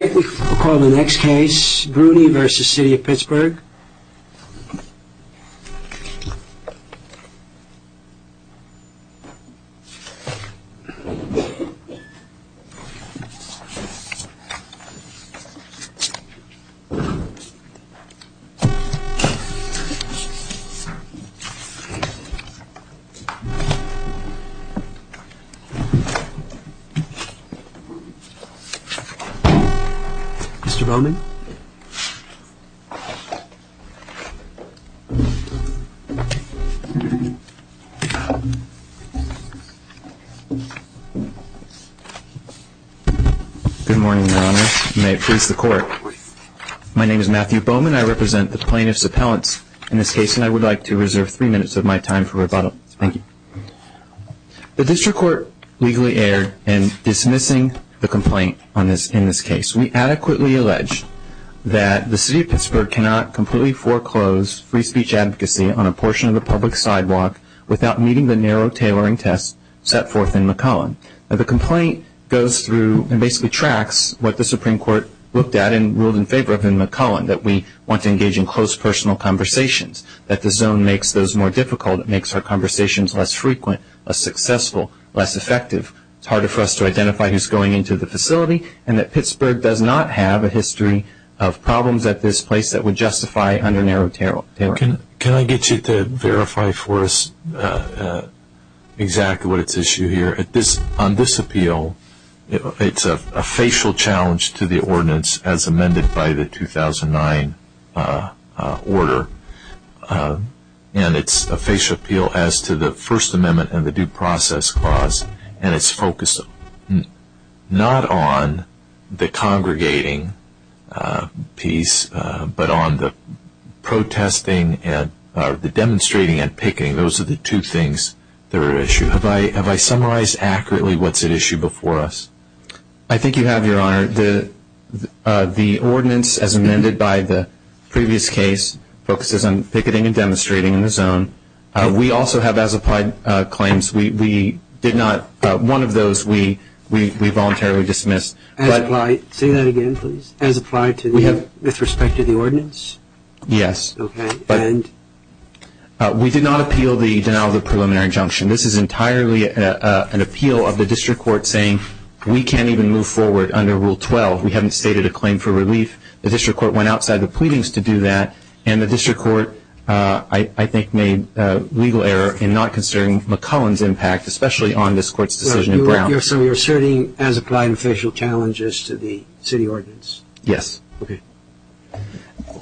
I think we'll call the next case, Bruni v. City of Pittsburgh. Mr. Bowman? Good morning, Your Honor. May it please the Court. My name is Matthew Bowman. I represent the plaintiff's appellants in this case, and I would like to reserve three minutes of my time for rebuttal. Thank you. The district court legally erred in dismissing the complaint in this case. We adequately allege that the City of Pittsburgh cannot completely foreclose free speech advocacy on a portion of the public sidewalk without meeting the narrow tailoring test set forth in McCullen. The complaint goes through and basically tracks what the Supreme Court looked at and ruled in favor of in McCullen, that we want to engage in close personal conversations, that the zone makes those more difficult, it makes our conversations less frequent, less successful, less effective, it's harder for us to identify who's going into the facility, and that Pittsburgh does not have a history of problems at this place that would justify under narrow tailoring. Can I get you to verify for us exactly what's at issue here? On this appeal, it's a facial challenge to the ordinance as amended by the 2009 order, and it's a facial appeal as to the First Amendment and the Due Process Clause, and it's focused not on the congregating piece, but on the demonstrating and picking. Those are the two things that are at issue. Have I summarized accurately what's at issue before us? I think you have, Your Honor. The ordinance as amended by the previous case focuses on picketing and demonstrating in the zone. We also have as-applied claims. One of those we voluntarily dismissed. Say that again, please. As-applied with respect to the ordinance? Yes. We did not appeal the denial of the preliminary injunction. This is entirely an appeal of the district court saying we can't even move forward under Rule 12. We haven't stated a claim for relief. The district court went outside the pleadings to do that, and the district court I think made legal error in not considering McCullen's impact, especially on this Court's decision in Brown. So you're asserting as-applied official challenges to the city ordinance? Yes. Okay.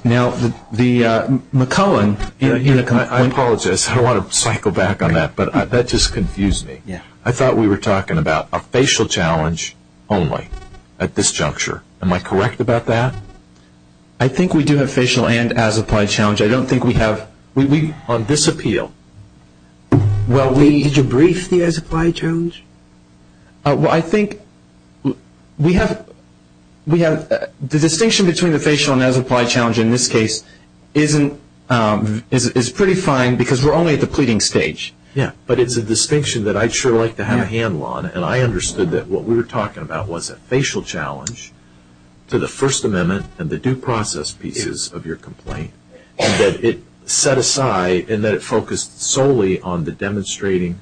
Now, the McCullen. I apologize. I don't want to cycle back on that, but that just confused me. I thought we were talking about a facial challenge only at this juncture. Am I correct about that? I think we do have facial and as-applied challenge. I don't think we have on this appeal. Did you brief the as-applied challenge? Well, I think we have the distinction between the facial and as-applied challenge in this case is pretty fine because we're only at the pleading stage. Yes, but it's a distinction that I'd sure like to have a handle on, and I understood that what we were talking about was a facial challenge to the First Amendment and the due process pieces of your complaint, and that it set aside and that it focused solely on the demonstrating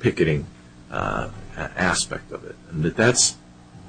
picketing aspect of it.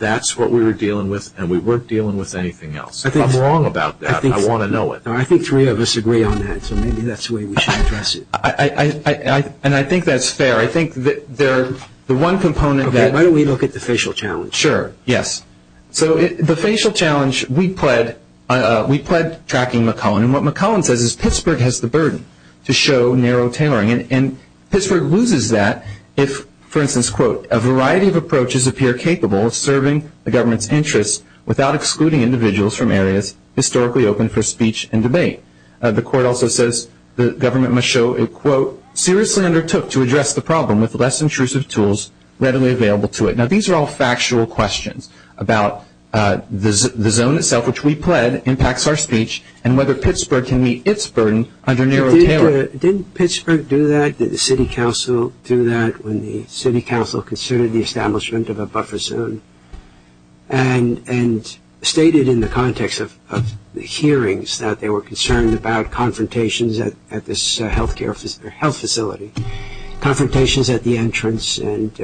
That's what we were dealing with, and we weren't dealing with anything else. If I'm wrong about that, I want to know it. I think three of us agree on that, so maybe that's the way we should address it. And I think that's fair. I think the one component that – Okay. Why don't we look at the facial challenge? Sure. Yes. So the facial challenge, we pled tracking McClellan, and what McClellan says is Pittsburgh has the burden to show narrow tailoring, and Pittsburgh loses that if, for instance, quote, a variety of approaches appear capable of serving the government's interests without excluding individuals from areas historically open for speech and debate. The court also says the government must show it, quote, seriously undertook to address the problem with less intrusive tools readily available to it. Now, these are all factual questions about the zone itself, which we pled, impacts our speech, and whether Pittsburgh can meet its burden under narrow tailoring. Didn't Pittsburgh do that? Did the city council do that when the city council considered the establishment of a buffer zone? And stated in the context of the hearings that they were concerned about confrontations at this health facility, confrontations at the entrance and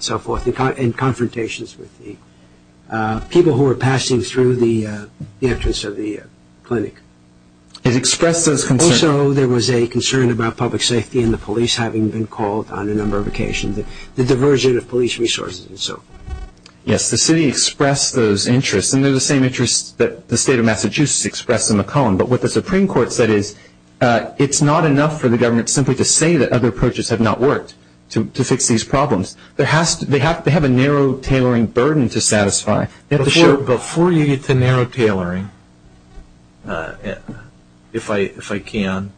so forth, and confrontations with the people who were passing through the entrance of the clinic. It expressed those concerns. Also, there was a concern about public safety and the police having been called on a number of occasions, the diversion of police resources and so forth. Yes, the city expressed those interests, and they're the same interests that the state of Massachusetts expressed in McClellan. But what the Supreme Court said is it's not enough for the government simply to say that other approaches have not worked to fix these problems. They have to have a narrow tailoring burden to satisfy. Before you get to narrow tailoring, if I can,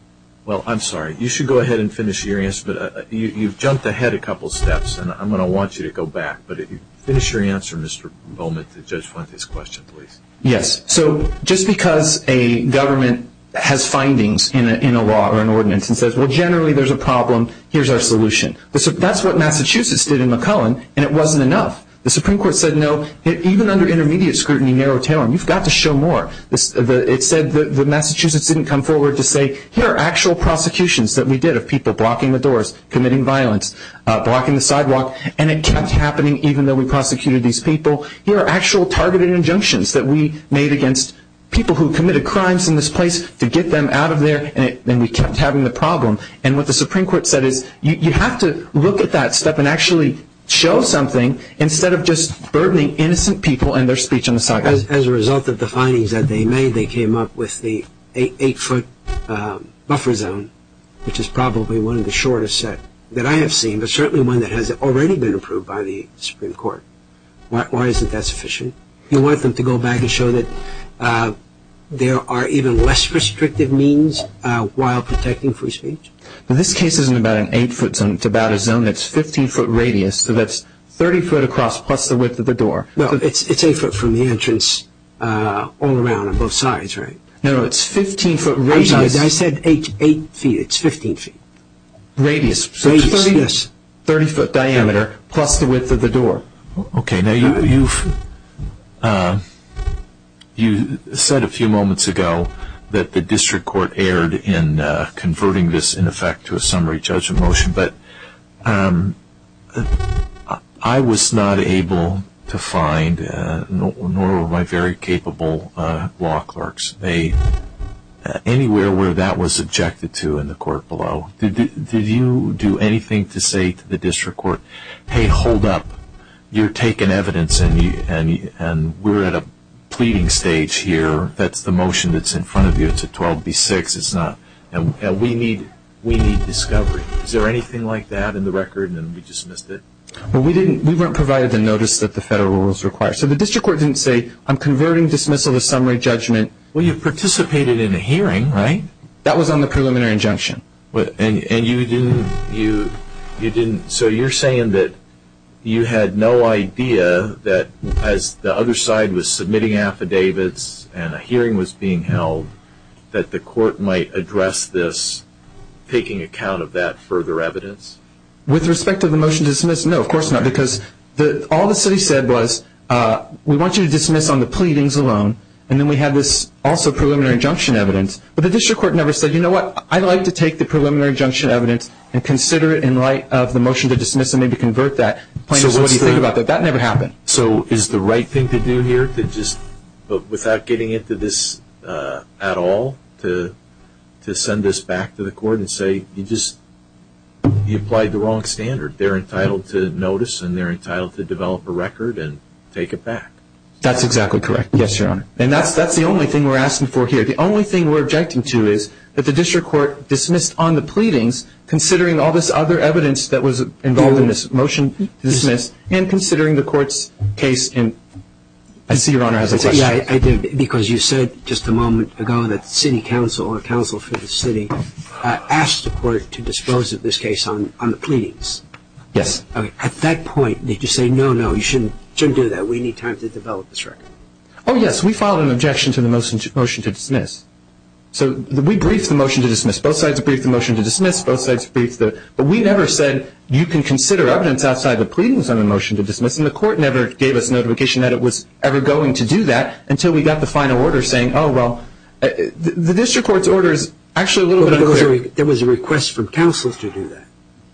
well, I'm sorry. You should go ahead and finish your answer, but you've jumped ahead a couple steps, and I'm going to want you to go back, but finish your answer, Mr. Bowman, to Judge Fuentes' question, please. Yes. So just because a government has findings in a law or an ordinance and says, well, generally there's a problem, here's our solution. That's what Massachusetts did in McClellan, and it wasn't enough. The Supreme Court said no. Even under intermediate scrutiny, narrow tailoring, you've got to show more. It said that Massachusetts didn't come forward to say, here are actual prosecutions that we did of people blocking the doors, committing violence, blocking the sidewalk, and it kept happening even though we prosecuted these people. Here are actual targeted injunctions that we made against people who committed crimes in this place to get them out of there, and we kept having the problem. And what the Supreme Court said is you have to look at that stuff and actually show something instead of just burdening innocent people and their speech on the sidewalk. As a result of the findings that they made, they came up with the eight-foot buffer zone, which is probably one of the shortest set that I have seen, but certainly one that has already been approved by the Supreme Court. Why isn't that sufficient? You want them to go back and show that there are even less restrictive means while protecting free speech? This case isn't about an eight-foot zone. It's about a zone that's 15-foot radius, so that's 30-foot across plus the width of the door. It's eight-foot from the entrance all around on both sides, right? No, it's 15-foot radius. I said eight feet. It's 15 feet. Radius. Radius, yes. 30-foot diameter plus the width of the door. Okay. Now, you said a few moments ago that the district court erred in converting this, in effect, to a summary judgment motion, but I was not able to find, nor were my very capable law clerks, anywhere where that was subjected to in the court below. Did you do anything to say to the district court, hey, hold up. You're taking evidence, and we're at a pleading stage here. That's the motion that's in front of you. It's a 12B6. We need discovery. Is there anything like that in the record, and we dismissed it? We weren't provided the notice that the federal rules require. So the district court didn't say, I'm converting dismissal to summary judgment. Well, you participated in a hearing, right? That was on the preliminary injunction. And you didn't, so you're saying that you had no idea that as the other side was submitting affidavits and a hearing was being held, that the court might address this, taking account of that further evidence? With respect to the motion to dismiss, no, of course not, because all the city said was, we want you to dismiss on the pleadings alone, and then we had this also preliminary injunction evidence, but the district court never said, you know what, I'd like to take the preliminary injunction evidence and consider it in light of the motion to dismiss and maybe convert that. So what do you think about that? That never happened. So is the right thing to do here to just, without getting into this at all, to send this back to the court and say you just, you applied the wrong standard? They're entitled to notice, and they're entitled to develop a record and take it back. That's exactly correct, yes, Your Honor. And that's the only thing we're asking for here. The only thing we're objecting to is that the district court dismissed on the pleadings, considering all this other evidence that was involved in this motion to dismiss, and considering the court's case in, I see Your Honor has a question. Yeah, I do, because you said just a moment ago that the city council or council for the city asked the court to dispose of this case on the pleadings. Yes. At that point, did you say, no, no, you shouldn't do that, we need time to develop this record? Oh, yes. We filed an objection to the motion to dismiss. So we briefed the motion to dismiss. Both sides briefed the motion to dismiss. Both sides briefed it. But we never said you can consider evidence outside the pleadings on the motion to dismiss, and the court never gave us notification that it was ever going to do that until we got the final order saying, oh, well, the district court's order is actually a little bit unclear. There was a request from council to do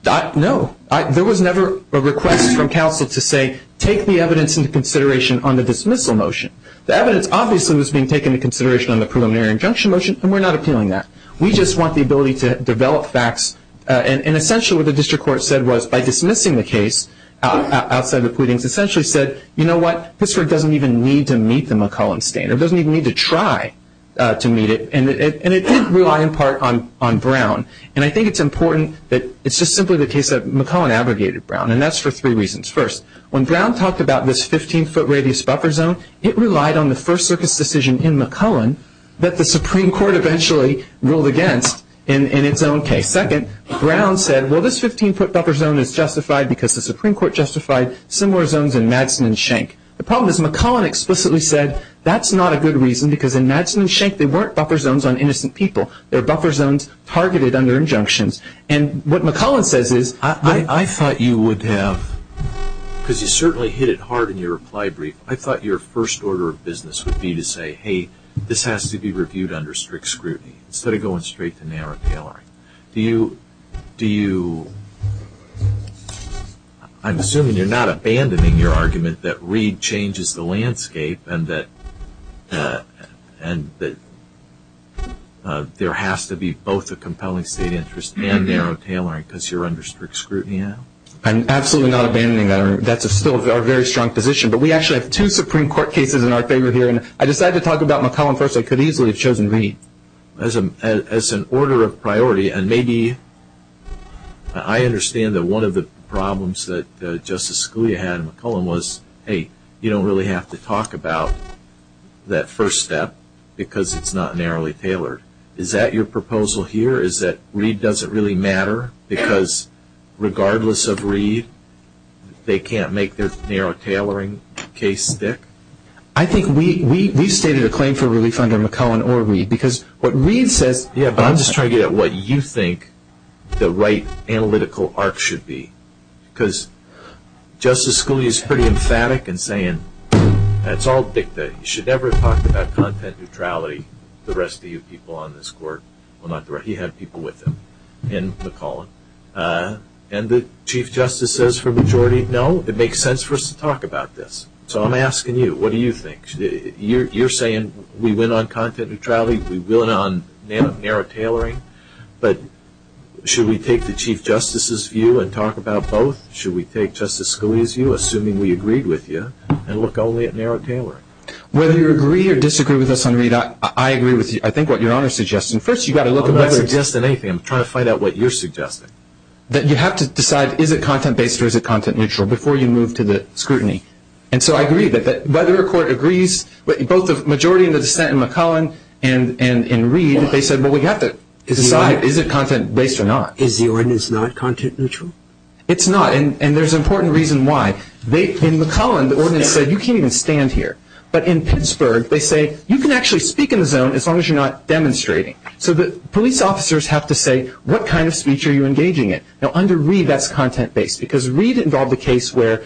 that? No. There was never a request from council to say, take the evidence into consideration on the dismissal motion. The evidence obviously was being taken into consideration on the preliminary injunction motion, and we're not appealing that. We just want the ability to develop facts. And essentially what the district court said was, by dismissing the case outside the pleadings, essentially said, you know what, this court doesn't even need to meet the McCollum standard, doesn't even need to try to meet it. And it did rely in part on Brown. And I think it's important that it's just simply the case that McCollum abrogated Brown, and that's for three reasons. First, when Brown talked about this 15-foot radius buffer zone, it relied on the first circus decision in McCollum that the Supreme Court eventually ruled against in its own case. Second, Brown said, well, this 15-foot buffer zone is justified because the Supreme Court justified similar zones in Madsen and Schenck. The problem is McCollum explicitly said that's not a good reason because in Madsen and Schenck they weren't buffer zones on innocent people. They were buffer zones targeted under injunctions. And what McCollum says is... I thought you would have, because you certainly hit it hard in your reply brief, I thought your first order of business would be to say, hey, this has to be reviewed under strict scrutiny instead of going straight to narrow tailoring. Do you... I'm assuming you're not abandoning your argument that Reed changes the landscape and that there has to be both a compelling state interest and narrow tailoring because you're under strict scrutiny now? I'm absolutely not abandoning that argument. That's still our very strong position. But we actually have two Supreme Court cases in our favor here, and I decided to talk about McCollum first. I could easily have chosen Reed as an order of priority, and maybe I understand that one of the problems that Justice Scalia had in McCollum was, hey, you don't really have to talk about that first step because it's not narrowly tailored. Is that your proposal here, is that Reed doesn't really matter because regardless of Reed, they can't make their narrow tailoring case stick? I think we've stated a claim for relief under McCollum or Reed because what Reed says... Yeah, but I'm just trying to get at what you think the right analytical arc should be because Justice Scalia is pretty emphatic in saying that's all dicta. You should never talk about content neutrality, the rest of you people on this Court. Well, not the rest. He had people with him in McCollum. And the Chief Justice says for a majority, no, it makes sense for us to talk about this. So I'm asking you, what do you think? You're saying we went on content neutrality, we went on narrow tailoring, but should we take the Chief Justice's view and talk about both? Should we take Justice Scalia's view, assuming we agreed with you, and look only at narrow tailoring? Whether you agree or disagree with us on Reed, I agree with you. I think what Your Honor is suggesting, first you've got to look at whether... I'm not suggesting anything. I'm trying to find out what you're suggesting. That you have to decide is it content-based or is it content-neutral before you move to the scrutiny. And so I agree that whether a Court agrees, both the majority in the dissent in McCollum and in Reed, they said, well, we've got to decide is it content-based or not. Is the ordinance not content-neutral? It's not. And there's an important reason why. In McCollum, the ordinance said you can't even stand here. But in Pittsburgh, they say you can actually speak in the zone as long as you're not demonstrating. So the police officers have to say what kind of speech are you engaging in. Now under Reed, that's content-based because Reed involved a case where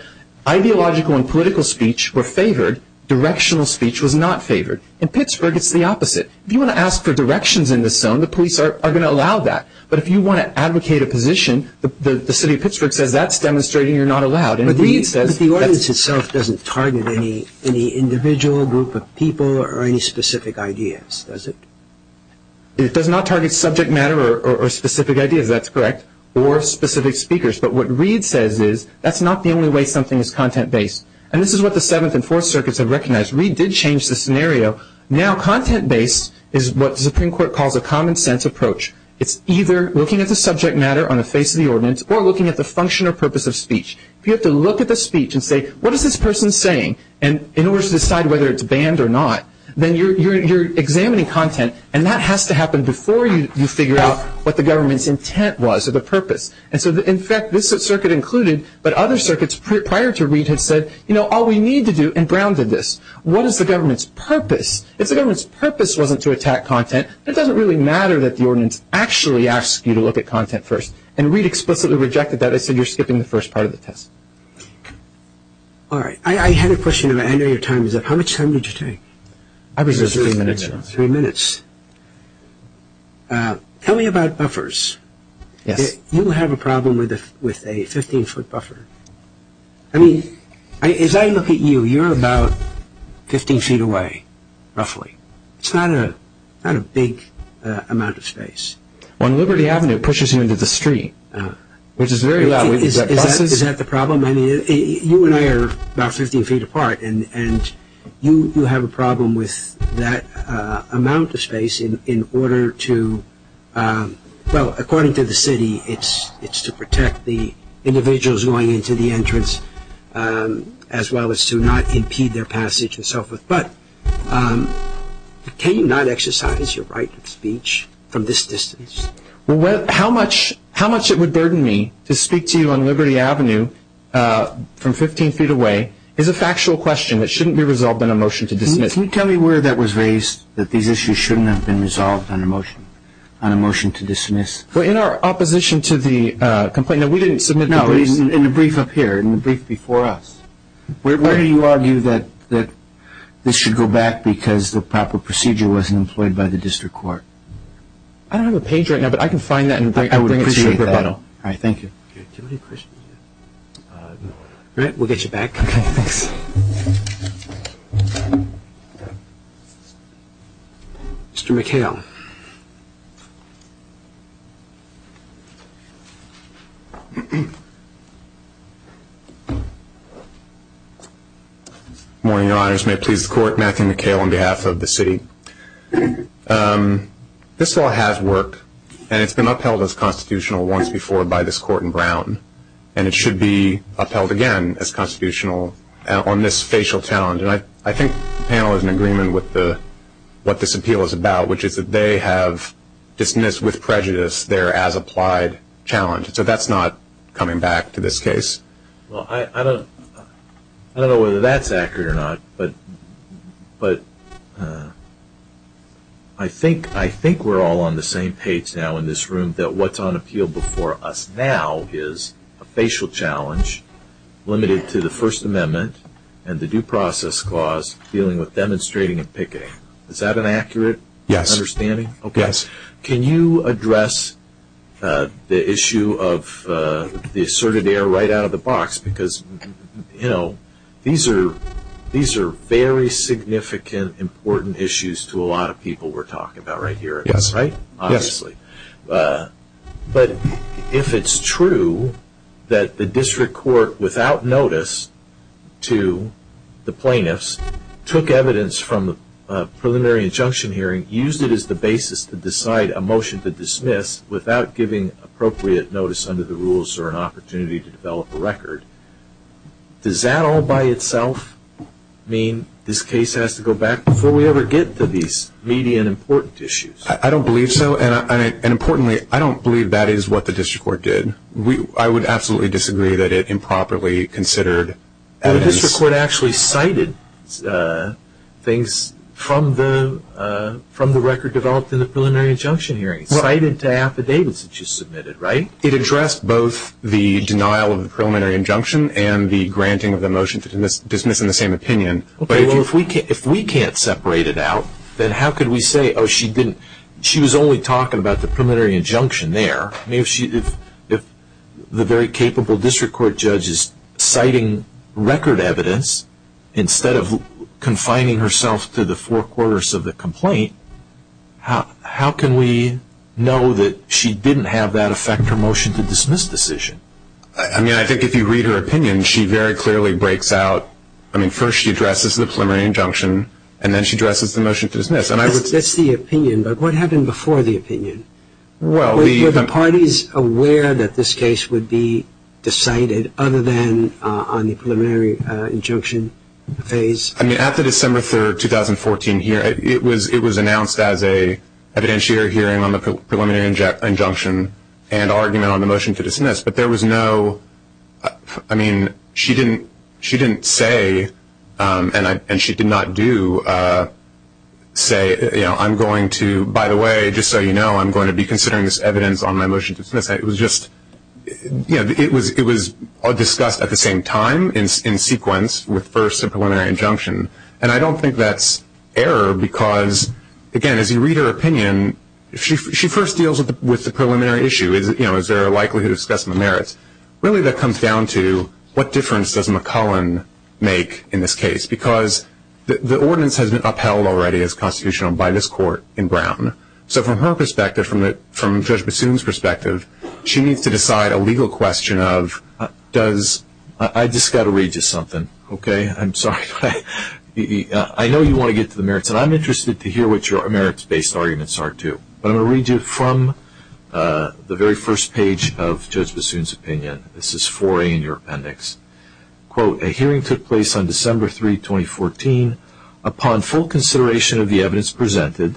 ideological and political speech were favored, directional speech was not favored. In Pittsburgh, it's the opposite. If you want to ask for directions in the zone, the police are going to allow that. But if you want to advocate a position, the city of Pittsburgh says that's demonstrating you're not allowed. But the ordinance itself doesn't target any individual group of people or any specific ideas, does it? It does not target subject matter or specific ideas, that's correct, or specific speakers. But what Reed says is that's not the only way something is content-based. And this is what the Seventh and Fourth Circuits have recognized. Reed did change the scenario. Now content-based is what the Supreme Court calls a common-sense approach. It's either looking at the subject matter on the face of the ordinance or looking at the function or purpose of speech. If you have to look at the speech and say, what is this person saying, and in order to decide whether it's banned or not, then you're examining content, and that has to happen before you figure out what the government's intent was or the purpose. And so, in fact, this circuit included, but other circuits prior to Reed had said, you know, all we need to do, and Brown did this. What is the government's purpose? If the government's purpose wasn't to attack content, it doesn't really matter that the ordinance actually asks you to look at content first. And Reed explicitly rejected that and said you're skipping the first part of the test. All right. I had a question. I know your time is up. How much time did you take? I was just three minutes. Three minutes. Tell me about buffers. Yes. You have a problem with a 15-foot buffer. I mean, as I look at you, you're about 15 feet away, roughly. It's not a big amount of space. On Liberty Avenue, it pushes you into the street, which is very loud. Is that the problem? I mean, you and I are about 15 feet apart, and you have a problem with that amount of space in order to, well, according to the city, it's to protect the individuals going into the entrance as well as to not impede their passage and so forth. But can you not exercise your right of speech from this distance? Well, how much it would burden me to speak to you on Liberty Avenue from 15 feet away is a factual question that shouldn't be resolved in a motion to dismiss. Can you tell me where that was raised, that these issues shouldn't have been resolved on a motion to dismiss? Well, in our opposition to the complaint, we didn't submit the brief. No, in the brief up here, in the brief before us. Where do you argue that this should go back because the proper procedure wasn't employed by the district court? I don't have a page right now, but I can find that and bring it to your rebuttal. I would appreciate that. All right. Thank you. All right. We'll get you back. Okay. Thank you. Mr. McHale. Good morning, Your Honors. May it please the court, Matthew McHale on behalf of the city. This law has worked, and it's been upheld as constitutional once before by this court in Brown, and it should be upheld again as constitutional on this facial challenge. And I think the panel is in agreement with what this appeal is about, which is that they have dismissed with prejudice their as-applied challenge. So that's not coming back to this case. Well, I don't know whether that's accurate or not, but I think we're all on the same page now in this room, that what's on appeal before us now is a facial challenge limited to the First Amendment and the Due Process Clause dealing with demonstrating and picketing. Is that an accurate understanding? Yes. Can you address the issue of the asserted error right out of the box? Because, you know, these are very significant, important issues to a lot of people we're talking about right here. Yes. Right? Yes. Obviously. But if it's true that the district court, without notice to the plaintiffs, took evidence from the preliminary injunction hearing, used it as the basis to decide a motion to dismiss without giving appropriate notice under the rules or an opportunity to develop a record, does that all by itself mean this case has to go back before we ever get to these media and important issues? I don't believe so. And importantly, I don't believe that is what the district court did. I would absolutely disagree that it improperly considered evidence. Well, the district court actually cited things from the record developed in the preliminary injunction hearing. Well. Cited affidavits that you submitted, right? It addressed both the denial of the preliminary injunction and the granting of the motion to dismiss in the same opinion. Okay. Well, if we can't separate it out, then how could we say, oh, she didn't, she was only talking about the preliminary injunction there. I mean, if the very capable district court judge is citing record evidence instead of confining herself to the four quarters of the complaint, how can we know that she didn't have that affect her motion to dismiss decision? I mean, I think if you read her opinion, she very clearly breaks out. I mean, first she addresses the preliminary injunction, and then she addresses the motion to dismiss. That's the opinion, but what happened before the opinion? Were the parties aware that this case would be decided other than on the preliminary injunction phase? I mean, at the December 3, 2014 hearing, it was announced as an evidentiary hearing on the preliminary injunction and argument on the motion to dismiss, but there was no, I mean, she didn't say, and she did not do, say, you know, I'm going to, by the way, just so you know, I'm going to be considering this evidence on my motion to dismiss. It was just, you know, it was discussed at the same time in sequence with first the preliminary injunction, and I don't think that's error because, again, as you read her opinion, she first deals with the preliminary issue, you know, is there a likelihood of specimen merits. Really that comes down to what difference does McClellan make in this case, because the ordinance has been upheld already as constitutional by this court in Brown. So from her perspective, from Judge Bassoon's perspective, she needs to decide a legal question of does, I just got to read you something, okay? I'm sorry. I know you want to get to the merits, and I'm interested to hear what your merits-based arguments are too, but I'm going to read you from the very first page of Judge Bassoon's opinion. This is 4A in your appendix. Quote, a hearing took place on December 3, 2014. Upon full consideration of the evidence presented,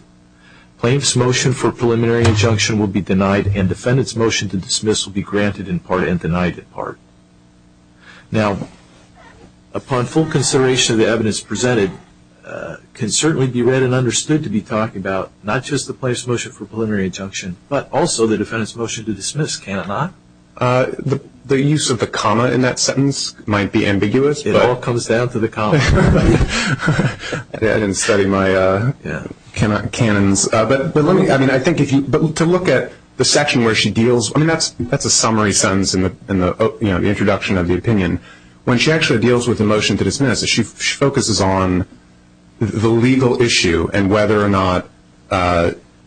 plaintiff's motion for preliminary injunction will be denied and defendant's motion to dismiss will be granted in part and denied in part. Now, upon full consideration of the evidence presented, can certainly be read and understood to be talking about not just the plaintiff's motion for preliminary injunction but also the defendant's motion to dismiss, can it not? The use of the comma in that sentence might be ambiguous. It all comes down to the comma. I didn't study my canons. But let me, I mean, I think if you, to look at the section where she deals, I mean, that's a summary sentence in the introduction of the opinion. When she actually deals with the motion to dismiss, she focuses on the legal issue and whether or not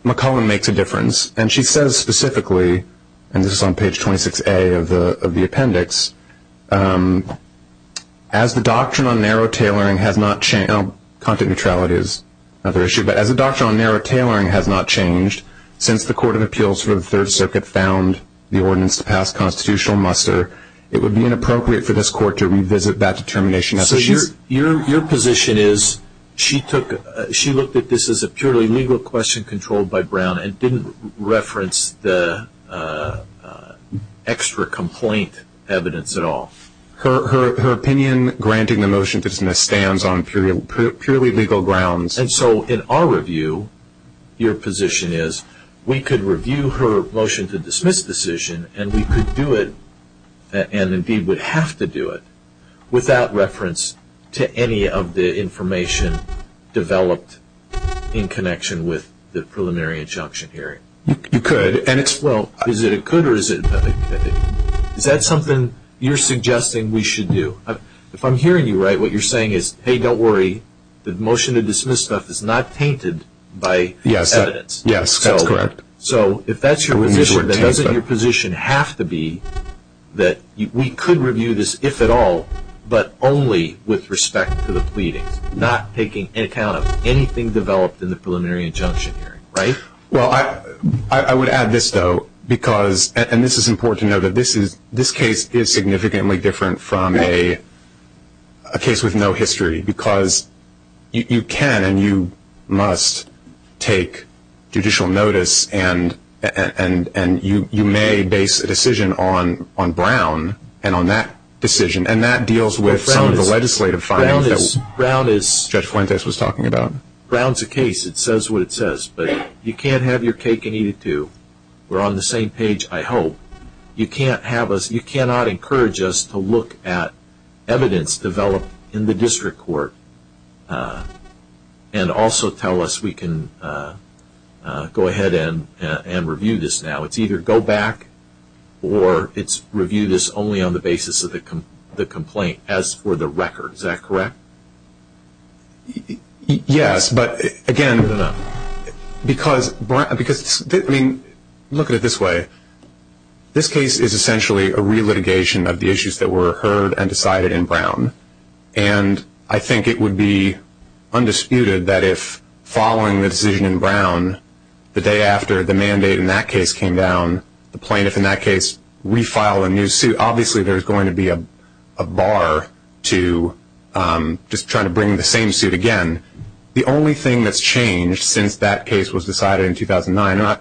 McClellan makes a difference. And she says specifically, and this is on page 26A of the appendix, as the doctrine on narrow tailoring has not changed, content neutrality is another issue, but as the doctrine on narrow tailoring has not changed since the court of appeals for the Third Circuit found the ordinance to pass constitutional muster, it would be inappropriate for this court to revisit that determination. So your position is she looked at this as a purely legal question controlled by Brown and didn't reference the extra complaint evidence at all? Her opinion granting the motion to dismiss stands on purely legal grounds. And so in our review, your position is we could review her motion to dismiss decision and we could do it, and indeed would have to do it, without reference to any of the information developed in connection with the preliminary injunction hearing. You could, and it's... Well, is it a could or is it... Is that something you're suggesting we should do? If I'm hearing you right, what you're saying is, hey, don't worry, the motion to dismiss stuff is not tainted by evidence. Yes, that's correct. So if that's your position, then doesn't your position have to be that we could review this, if at all, but only with respect to the pleadings, not taking into account anything developed in the preliminary injunction hearing, right? Well, I would add this, though, because, and this is important to know, that this case is significantly different from a case with no history because you can and you must take judicial notice and you may base a decision on Brown and on that decision, and that deals with some of the legislative findings that Judge Fuentes was talking about. Brown is a case. It says what it says, but you can't have your cake and eat it, too. We're on the same page, I hope. You cannot encourage us to look at evidence developed in the district court and also tell us we can go ahead and review this now. It's either go back or it's review this only on the basis of the complaint as for the record. Is that correct? Yes, but, again, because, I mean, look at it this way. This case is essentially a re-litigation of the issues that were heard and decided in Brown, and I think it would be undisputed that if, following the decision in Brown, the day after the mandate in that case came down, the plaintiff in that case refiled a new suit, obviously there's going to be a bar to just trying to bring the same suit again. The only thing that's changed since that case was decided in 2009,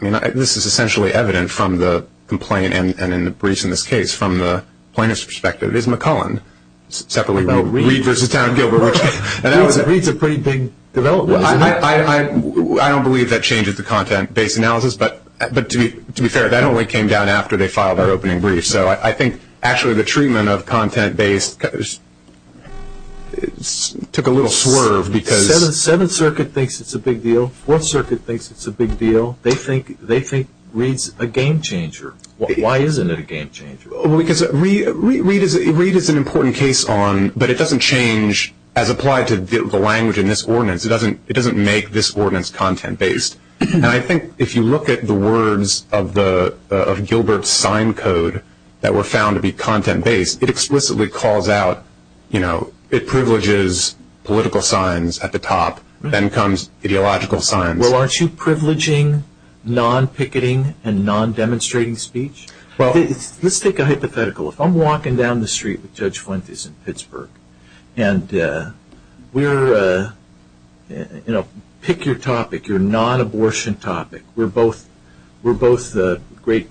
and this is essentially evident from the complaint and in the briefs in this case from the plaintiff's perspective, is McCullen separately, Reed v. Town & Gilbert. Reed's a pretty big developer. I don't believe that changes the content-based analysis, but to be fair, that only came down after they filed their opening brief, so I think actually the treatment of content-based took a little swerve because the Seventh Circuit thinks it's a big deal. Fourth Circuit thinks it's a big deal. They think Reed's a game-changer. Why isn't it a game-changer? Because Reed is an important case on, but it doesn't change as applied to the language in this ordinance. It doesn't make this ordinance content-based, and I think if you look at the words of Gilbert's sign code that were found to be content-based, it explicitly calls out, you know, it privileges political signs at the top, then comes ideological signs. Well, aren't you privileging non-picketing and non-demonstrating speech? Let's take a hypothetical. If I'm walking down the street with Judge Fuentes in Pittsburgh, and we're, you know, pick your topic, your non-abortion topic. We're both great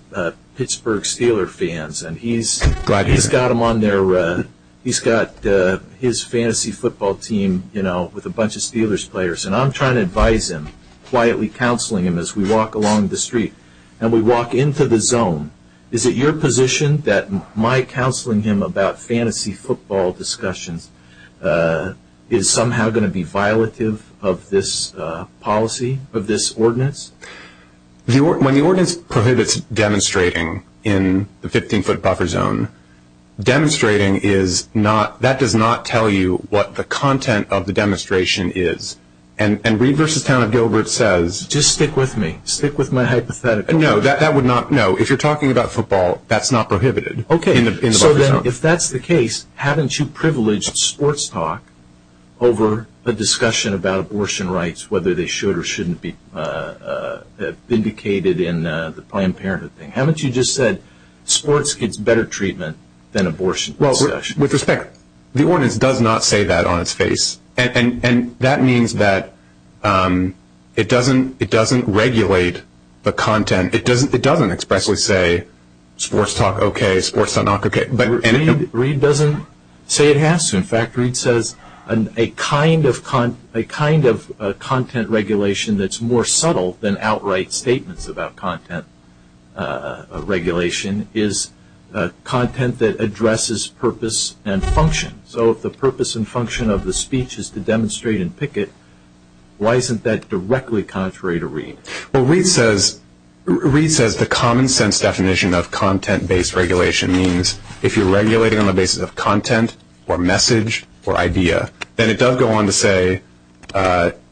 Pittsburgh Steelers fans, and he's got his fantasy football team, you know, with a bunch of Steelers players, and I'm trying to advise him, quietly counseling him as we walk along the street, and we walk into the zone. Is it your position that my counseling him about fantasy football discussions is somehow going to be When the ordinance prohibits demonstrating in the 15-foot buffer zone, demonstrating is not, that does not tell you what the content of the demonstration is. And Reed v. Town of Gilbert says Just stick with me, stick with my hypothetical. No, that would not, no, if you're talking about football, that's not prohibited in the buffer zone. Okay, so then if that's the case, haven't you privileged sports talk over a discussion about abortion rights, whether they should or shouldn't be indicated in the Planned Parenthood thing? Haven't you just said sports gets better treatment than abortion discussion? Well, with respect, the ordinance does not say that on its face, and that means that it doesn't regulate the content. It doesn't expressly say sports talk okay, sports talk not okay. Reed doesn't say it has to. In fact, Reed says a kind of content regulation that's more subtle than outright statements about content regulation is content that addresses purpose and function. So if the purpose and function of the speech is to demonstrate and picket, why isn't that directly contrary to Reed? Well, Reed says the common sense definition of content-based regulation means if you're regulating on the basis of content or message or idea, then it does go on to say,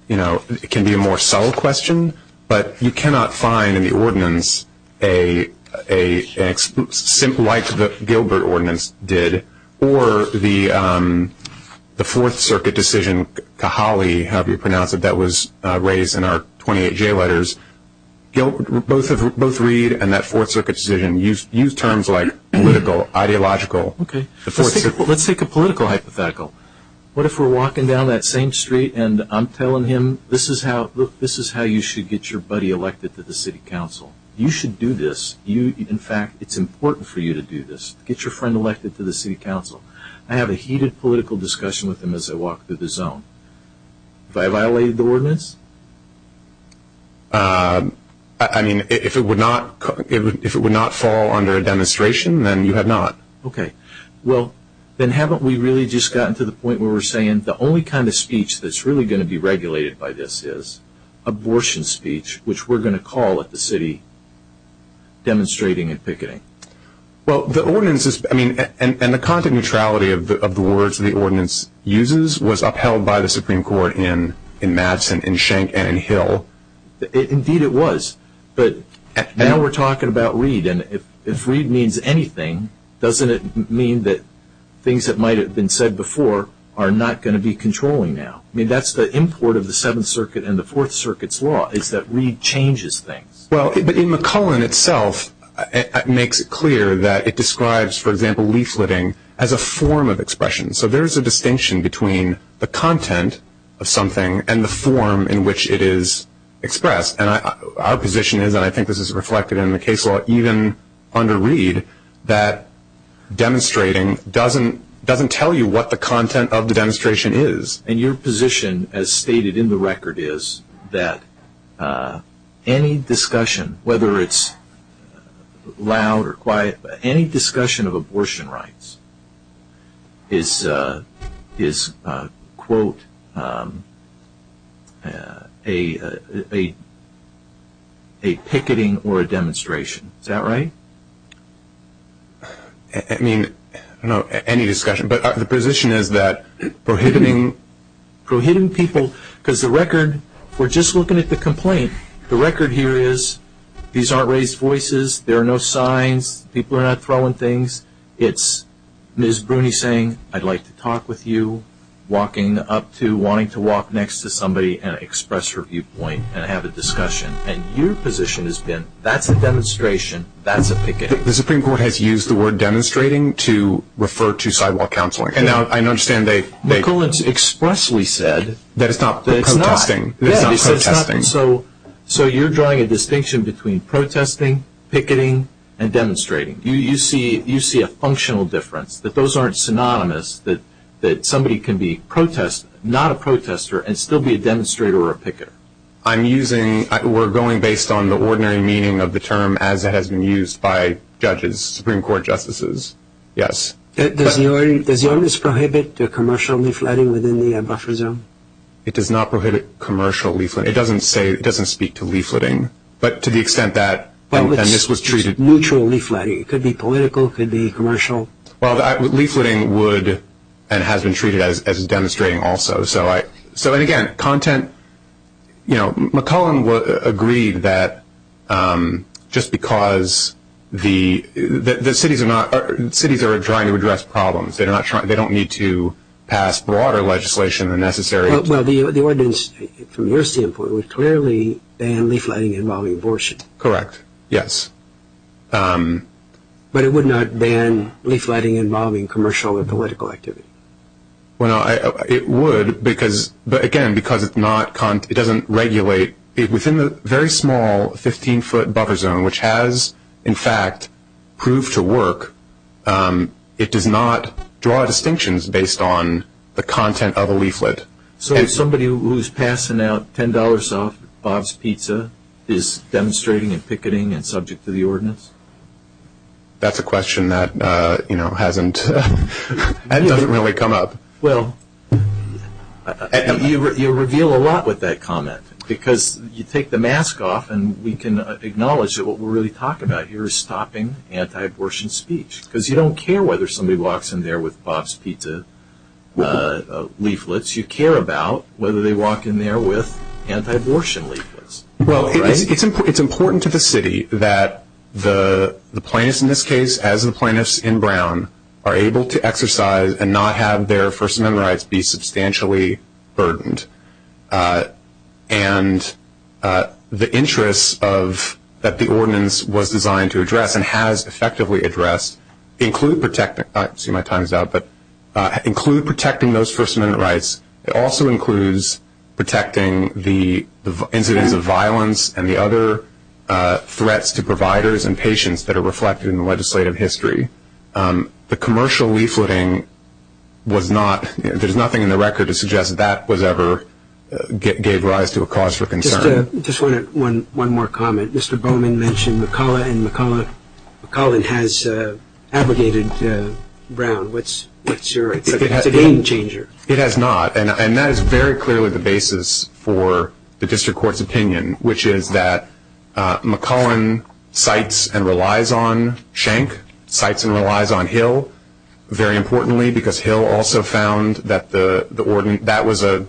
you know, it can be a more subtle question, but you cannot find in the ordinance a, like the Gilbert ordinance did, or the Fourth Circuit decision, Cajale, however you pronounce it, that was raised in our 28J letters, both Reed and that Fourth Circuit decision use terms like political, ideological. Okay. Let's take a political hypothetical. What if we're walking down that same street and I'm telling him this is how you should get your buddy elected to the city council. You should do this. In fact, it's important for you to do this. Get your friend elected to the city council. I have a heated political discussion with him as I walk through the zone. Have I violated the ordinance? I mean, if it would not fall under a demonstration, then you have not. Okay. Well, then haven't we really just gotten to the point where we're saying the only kind of speech that's really going to be regulated by this is abortion speech, which we're going to call at the city demonstrating and picketing. Well, the ordinance is, I mean, and the content neutrality of the words the ordinance uses was upheld by the Supreme Court in Madison and in Schenck and in Hill. Indeed it was. But now we're talking about Reed, and if Reed means anything, doesn't it mean that things that might have been said before are not going to be controlling now? I mean, that's the import of the Seventh Circuit and the Fourth Circuit's law is that Reed changes things. Well, but in McCullen itself, it makes it clear that it describes, for example, leafleting as a form of expression. So there is a distinction between the content of something and the form in which it is expressed. And our position is, and I think this is reflected in the case law even under Reed, that demonstrating doesn't tell you what the content of the demonstration is. And your position, as stated in the record, is that any discussion, whether it's loud or quiet, any discussion of abortion rights is, quote, a picketing or a demonstration. Is that right? I mean, I don't know, any discussion. But the position is that prohibiting people, because the record, we're just looking at the complaint, the record here is these aren't raised voices, there are no signs, people are not throwing things, it's Ms. Bruni saying, I'd like to talk with you, walking up to, wanting to walk next to somebody and express her viewpoint and have a discussion. And your position has been, that's a demonstration, that's a picketing. The Supreme Court has used the word demonstrating to refer to sidewalk counseling. And I understand they- McCullen's expressly said- That it's not protesting. It's not protesting. So you're drawing a distinction between protesting, picketing, and demonstrating. You see a functional difference, that those aren't synonymous, that somebody can be protesting, not a protester, and still be a demonstrator or a picketer. I'm using, we're going based on the ordinary meaning of the term as it has been used by judges, Supreme Court justices. Yes. Does your list prohibit commercially flooding within the buffer zone? It does not prohibit commercial leafleting. It doesn't say, it doesn't speak to leafleting. But to the extent that this was treated- Neutral leafleting. It could be political, it could be commercial. Well, leafleting would and has been treated as demonstrating also. So, and again, content, you know, McCullen agreed that just because the cities are not, cities are trying to address problems. They don't need to pass broader legislation than necessary. Well, the ordinance from your standpoint would clearly ban leafleting involving abortion. Correct, yes. But it would not ban leafleting involving commercial or political activity. Well, it would because, but again, because it's not, it doesn't regulate. Within the very small 15-foot buffer zone, which has in fact proved to work, it does not draw distinctions based on the content of a leaflet. So somebody who's passing out $10 off Bob's Pizza is demonstrating and picketing and subject to the ordinance? That's a question that, you know, hasn't, that doesn't really come up. Well, you reveal a lot with that comment because you take the mask off and we can acknowledge that what we're really talking about here is stopping anti-abortion speech because you don't care whether somebody walks in there with Bob's Pizza leaflets. You care about whether they walk in there with anti-abortion leaflets. Well, it's important to the city that the plaintiffs in this case, as the plaintiffs in Brown, are able to exercise and not have their First Amendment rights be substantially burdened. And the interests of, that the ordinance was designed to address and has effectively addressed include protecting, see my time is out, but include protecting those First Amendment rights. It also includes protecting the incidents of violence and the other threats to providers and patients that are reflected in the legislative history. The commercial leafleting was not, there's nothing in the record to suggest that that was ever, gave rise to a cause for concern. Just one more comment. Mr. Bowman mentioned McCullough and McCullough, McCullough has abrogated Brown. What's your, it's a game changer. It has not. And that is very clearly the basis for the district court's opinion, which is that McCullough cites and relies on Schenck, cites and relies on Hill, very importantly because Hill also found that the ordinance, that was a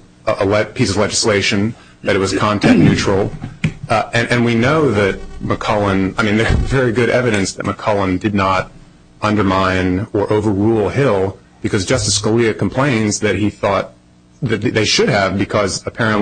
piece of legislation, that it was content neutral. And we know that McCullough, I mean there's very good evidence that McCullough did not undermine or overrule Hill because Justice Scalia complains that he thought that they should have because one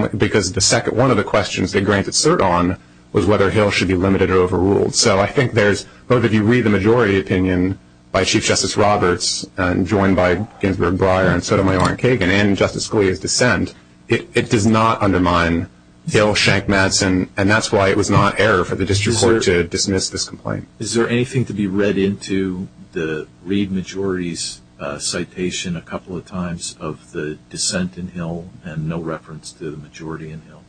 of the questions they granted cert on was whether Hill should be limited or overruled. So I think there's, both of you read the majority opinion by Chief Justice Roberts and joined by Ginsburg, Breyer and Sotomayor and Kagan and Justice Scalia's dissent. It does not undermine Hill, Schenck, Madsen, and that's why it was not error for the district court to dismiss this complaint. Is there anything to be read into the Reed majority's citation a couple of times of the dissent in Hill and no reference to the majority in Hill?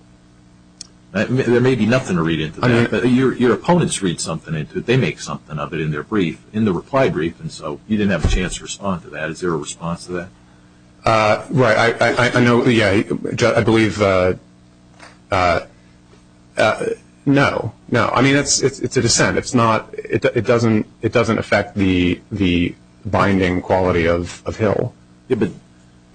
There may be nothing to read into that, but your opponents read something into it, they make something of it in their brief, in the reply brief, and so you didn't have a chance to respond to that. Is there a response to that? Right, I know, yeah, I believe, no, no, I mean it's a dissent.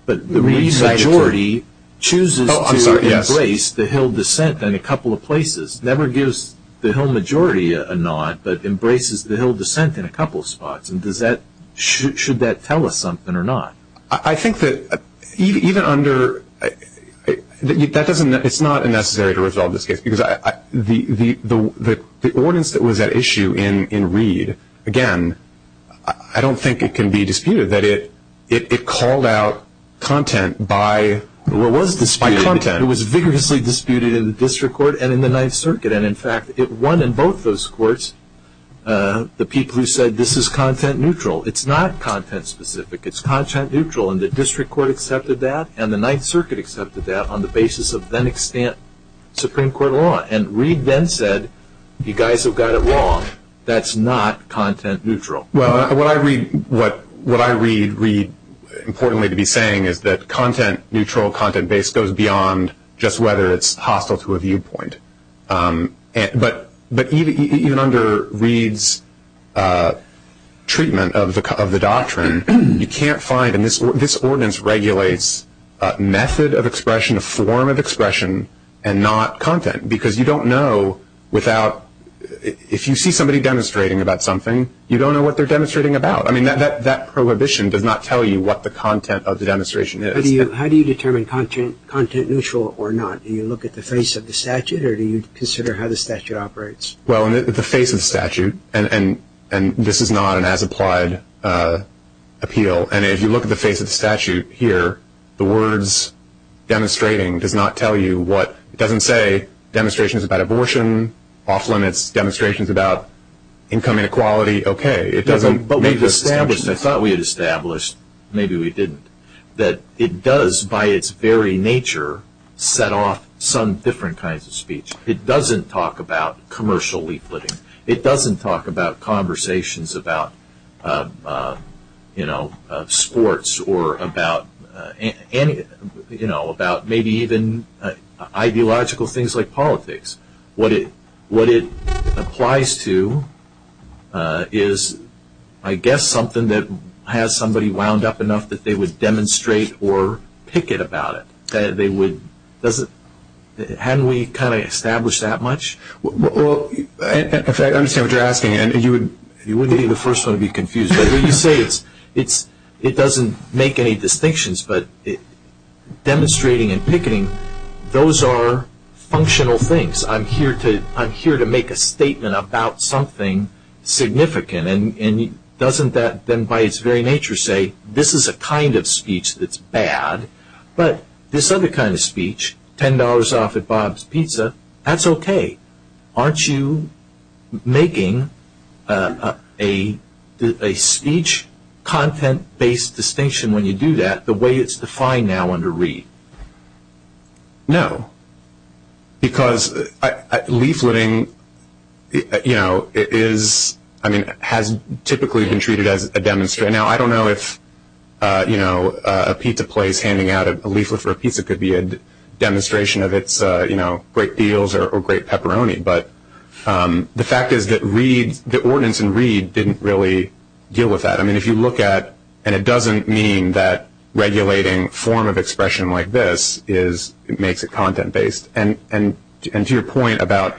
But the Reed majority chooses to embrace the Hill dissent in a couple of places, never gives the Hill majority a nod, but embraces the Hill dissent in a couple of spots, and does that, should that tell us something or not? I think that even under, that doesn't, it's not necessary to resolve this case because the ordinance that was at issue in Reed, again, I don't think it can be disputed that it called out content by content. It was vigorously disputed in the district court and in the Ninth Circuit, and in fact it won in both those courts the people who said this is content neutral. It's not content specific, it's content neutral, and the district court accepted that and the Ninth Circuit accepted that on the basis of then-extant Supreme Court law. And Reed then said, you guys have got it wrong, that's not content neutral. Well, what I read, importantly to be saying is that content neutral, content based, goes beyond just whether it's hostile to a viewpoint. But even under Reed's treatment of the doctrine, you can't find, and this ordinance regulates method of expression, form of expression, and not content, because you don't know without, if you see somebody demonstrating about something, you don't know what they're demonstrating about. I mean, that prohibition does not tell you what the content of the demonstration is. How do you determine content neutral or not? Do you look at the face of the statute or do you consider how the statute operates? Well, the face of the statute, and this is not an as-applied appeal, and if you look at the face of the statute here, the words demonstrating does not tell you what, it doesn't say demonstrations about abortion, off-limits, demonstrations about income inequality, okay. But we've established, I thought we had established, maybe we didn't, that it does, by its very nature, set off some different kinds of speech. It doesn't talk about commercial leafletting. It doesn't talk about conversations about, you know, sports or about, you know, maybe even ideological things like politics. What it applies to is, I guess, something that has somebody wound up enough that they would demonstrate or picket about it. They would, doesn't, hadn't we kind of established that much? Well, I understand what you're asking, and you wouldn't be the first one to be confused, but when you say it doesn't make any distinctions, but demonstrating and picketing, those are functional things. I'm here to make a statement about something significant, and doesn't that then by its very nature say this is a kind of speech that's bad, but this other kind of speech, $10 off at Bob's Pizza, that's okay. Aren't you making a speech content-based distinction when you do that the way it's defined now under READ? No, because leafletting, you know, it is, I mean, has typically been treated as a demonstration. Now, I don't know if, you know, a pizza place handing out a leaflet for a pizza could be a demonstration of its, you know, great deals or great pepperoni, but the fact is that READ, the ordinance in READ didn't really deal with that. I mean, if you look at, and it doesn't mean that regulating form of expression like this makes it content-based, and to your point about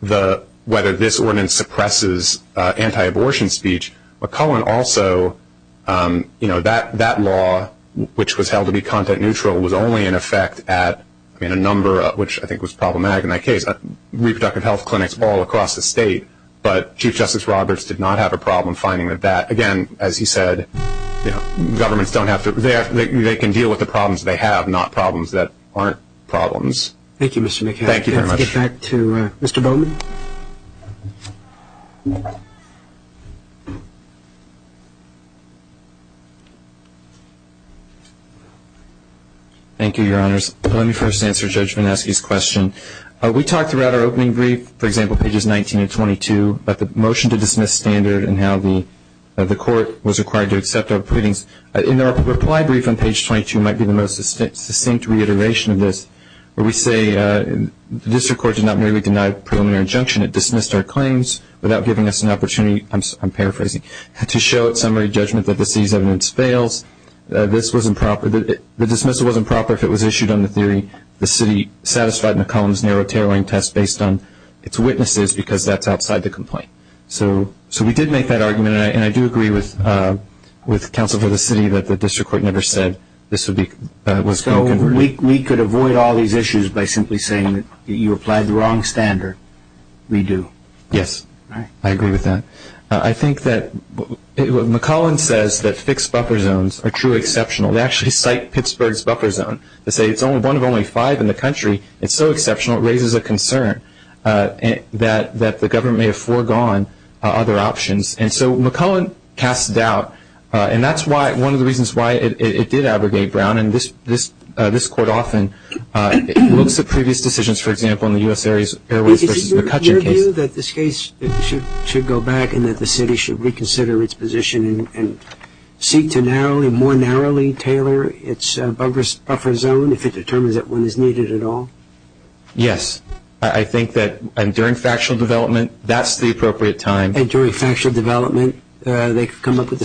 whether this ordinance suppresses anti-abortion speech, McCullen also, you know, that law which was held to be content-neutral was only in effect at, I mean, a number of, which I think was problematic in that case, reproductive health clinics all across the state, but Chief Justice Roberts did not have a problem finding that that, again, as he said, you know, governments don't have to, they can deal with the problems they have, not problems that aren't problems. Thank you, Mr. McCullen. Thank you very much. Let's get back to Mr. Bowman. Thank you, Your Honors. Let me first answer Judge Vineski's question. We talked throughout our opening brief, for example, pages 19 and 22, about the motion to dismiss standard and how the court was required to accept our pleadings. And our reply brief on page 22 might be the most succinct reiteration of this, where we say the district court did not merely deny a preliminary injunction. It dismissed our claims without giving us an opportunity, I'm paraphrasing, to show at summary judgment that the city's evidence fails. This was improper. The dismissal wasn't proper if it was issued on the theory the city satisfied McCullen's narrow tailoring test based on its witnesses because that's outside the complaint. So we did make that argument, and I do agree with counsel for the city that the district court never said this was being converted. So we could avoid all these issues by simply saying that you applied the wrong standard. We do. Yes. I agree with that. I think that what McCullen says, that fixed buffer zones are truly exceptional, they actually cite Pittsburgh's buffer zone. They say it's one of only five in the country. It's so exceptional it raises a concern that the government may have foregone other options. And so McCullen casts doubt, and that's one of the reasons why it did abrogate Brown. And this court often looks at previous decisions, for example, in the U.S. Airways v. McCutcheon case. Is it your view that this case should go back and that the city should reconsider its position and seek to more narrowly tailor its buffer zone if it determines that one is needed at all? Yes. I think that during factual development, that's the appropriate time. And during factual development, they could come up with the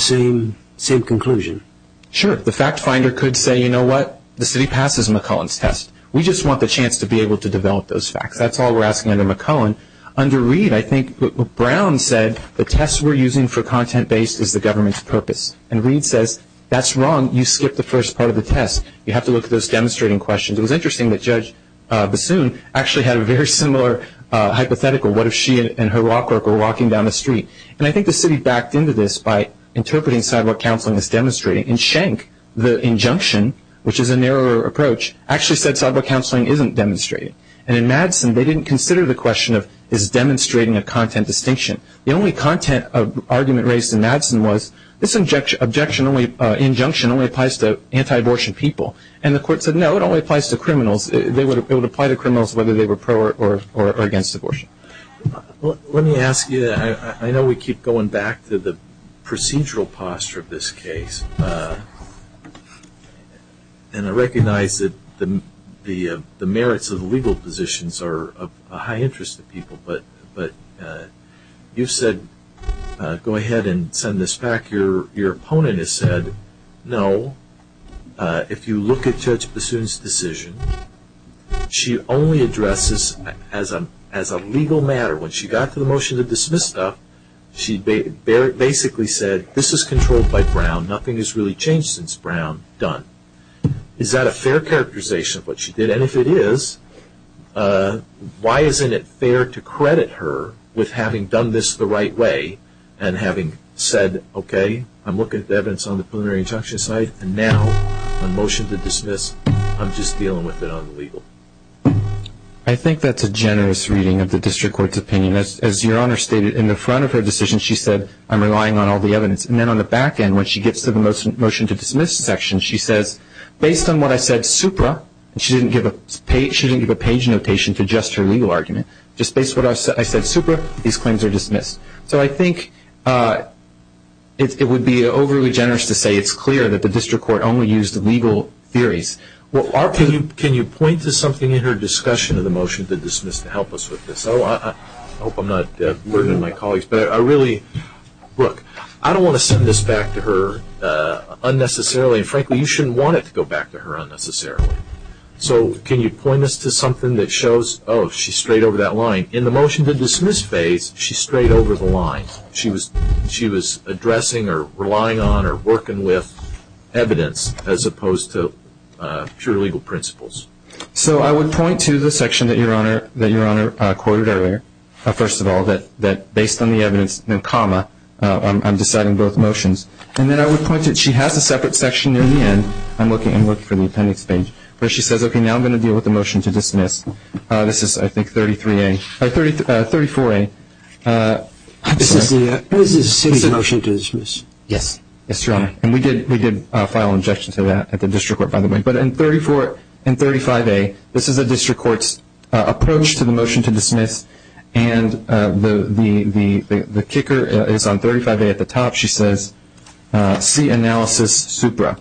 same conclusion? Sure. The fact finder could say, you know what, the city passes McCullen's test. We just want the chance to be able to develop those facts. That's all we're asking under McCullen. Under Reed, I think what Brown said, the test we're using for content-based is the government's purpose. And Reed says, that's wrong. You skipped the first part of the test. You have to look at those demonstrating questions. It was interesting that Judge Bassoon actually had a very similar hypothetical. What if she and her law clerk were walking down the street? And I think the city backed into this by interpreting sidewalk counseling as demonstrating. In Schenck, the injunction, which is a narrower approach, actually said sidewalk counseling isn't demonstrated. And in Madsen, they didn't consider the question of is demonstrating a content distinction. The only content of argument raised in Madsen was this injunction only applies to anti-abortion people. And the court said, no, it only applies to criminals. It would apply to criminals whether they were pro or against abortion. Let me ask you, I know we keep going back to the procedural posture of this case. And I recognize that the merits of the legal positions are of high interest to people. But you've said, go ahead and send this back. Your opponent has said, no. If you look at Judge Bassoon's decision, she only addresses as a legal matter. When she got to the motion to dismiss stuff, she basically said, this is controlled by Brown. Nothing has really changed since Brown done. Is that a fair characterization of what she did? And if it is, why isn't it fair to credit her with having done this the right way and having said, okay, I'm looking at the evidence on the preliminary injunction side, and now on motion to dismiss, I'm just dealing with it on the legal. I think that's a generous reading of the district court's opinion. As Your Honor stated, in the front of her decision, she said, I'm relying on all the evidence. And then on the back end, when she gets to the motion to dismiss section, she says, based on what I said supra, and she didn't give a page notation to just her legal argument, just based on what I said supra, these claims are dismissed. So I think it would be overly generous to say it's clear that the district court only used legal theories. Can you point to something in her discussion of the motion to dismiss to help us with this? I hope I'm not ruining my colleagues. But I really, look, I don't want to send this back to her unnecessarily. Frankly, you shouldn't want it to go back to her unnecessarily. So can you point us to something that shows, oh, she's straight over that line. In the motion to dismiss phase, she's straight over the line. She was addressing or relying on or working with evidence as opposed to pure legal principles. So I would point to the section that Your Honor quoted earlier. First of all, that based on the evidence, then comma, I'm deciding both motions. And then I would point to, she has a separate section near the end. I'm looking for the appendix page where she says, okay, now I'm going to deal with the motion to dismiss. This is, I think, 33A, 34A. This is a city motion to dismiss. Yes. Yes, Your Honor. And we did file an objection to that at the district court, by the way. But in 34 and 35A, this is a district court's approach to the motion to dismiss. And the kicker is on 35A at the top. She says, see analysis supra.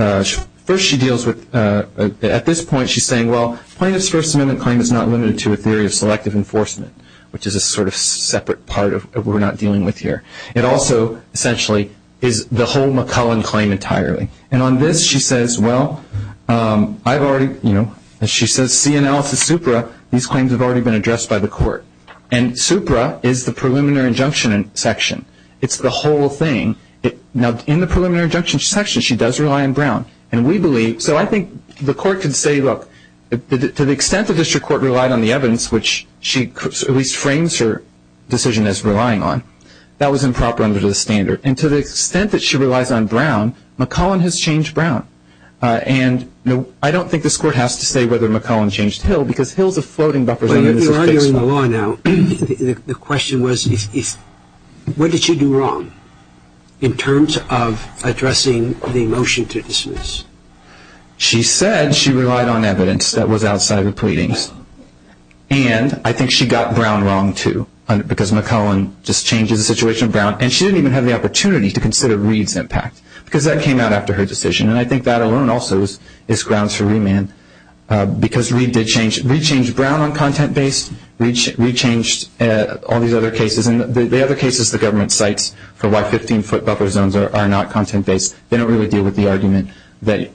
And first she deals with, at this point she's saying, well, plaintiff's First Amendment claim is not limited to a theory of selective enforcement, which is a sort of separate part of what we're not dealing with here. It also essentially is the whole McCullen claim entirely. And on this she says, well, I've already, you know, she says, see analysis supra. These claims have already been addressed by the court. And supra is the preliminary injunction section. It's the whole thing. Now, in the preliminary injunction section, she does rely on Brown. And we believe, so I think the court can say, look, to the extent the district court relied on the evidence, which she at least frames her decision as relying on, that was improper under the standard. And to the extent that she relies on Brown, McCullen has changed Brown. And I don't think this court has to say whether McCullen changed Hill because Hill is a floating buffer. But you're arguing the law now. The question was, what did she do wrong in terms of addressing the motion to dismiss? She said she relied on evidence that was outside of the pleadings. And I think she got Brown wrong too because McCullen just changes the situation of Brown. And she didn't even have the opportunity to consider Reed's impact because that came out after her decision. And I think that alone also is grounds for remand because Reed did change. Reed changed Brown on content-based. Reed changed all these other cases. And the other cases the government cites for why 15-foot buffer zones are not content-based, they don't really deal with the argument that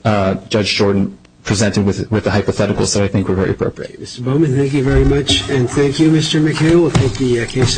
Judge Jordan presented with the hypothetical. So I think we're very appropriate. Mr. Bowman, thank you very much. And thank you, Mr. McHale.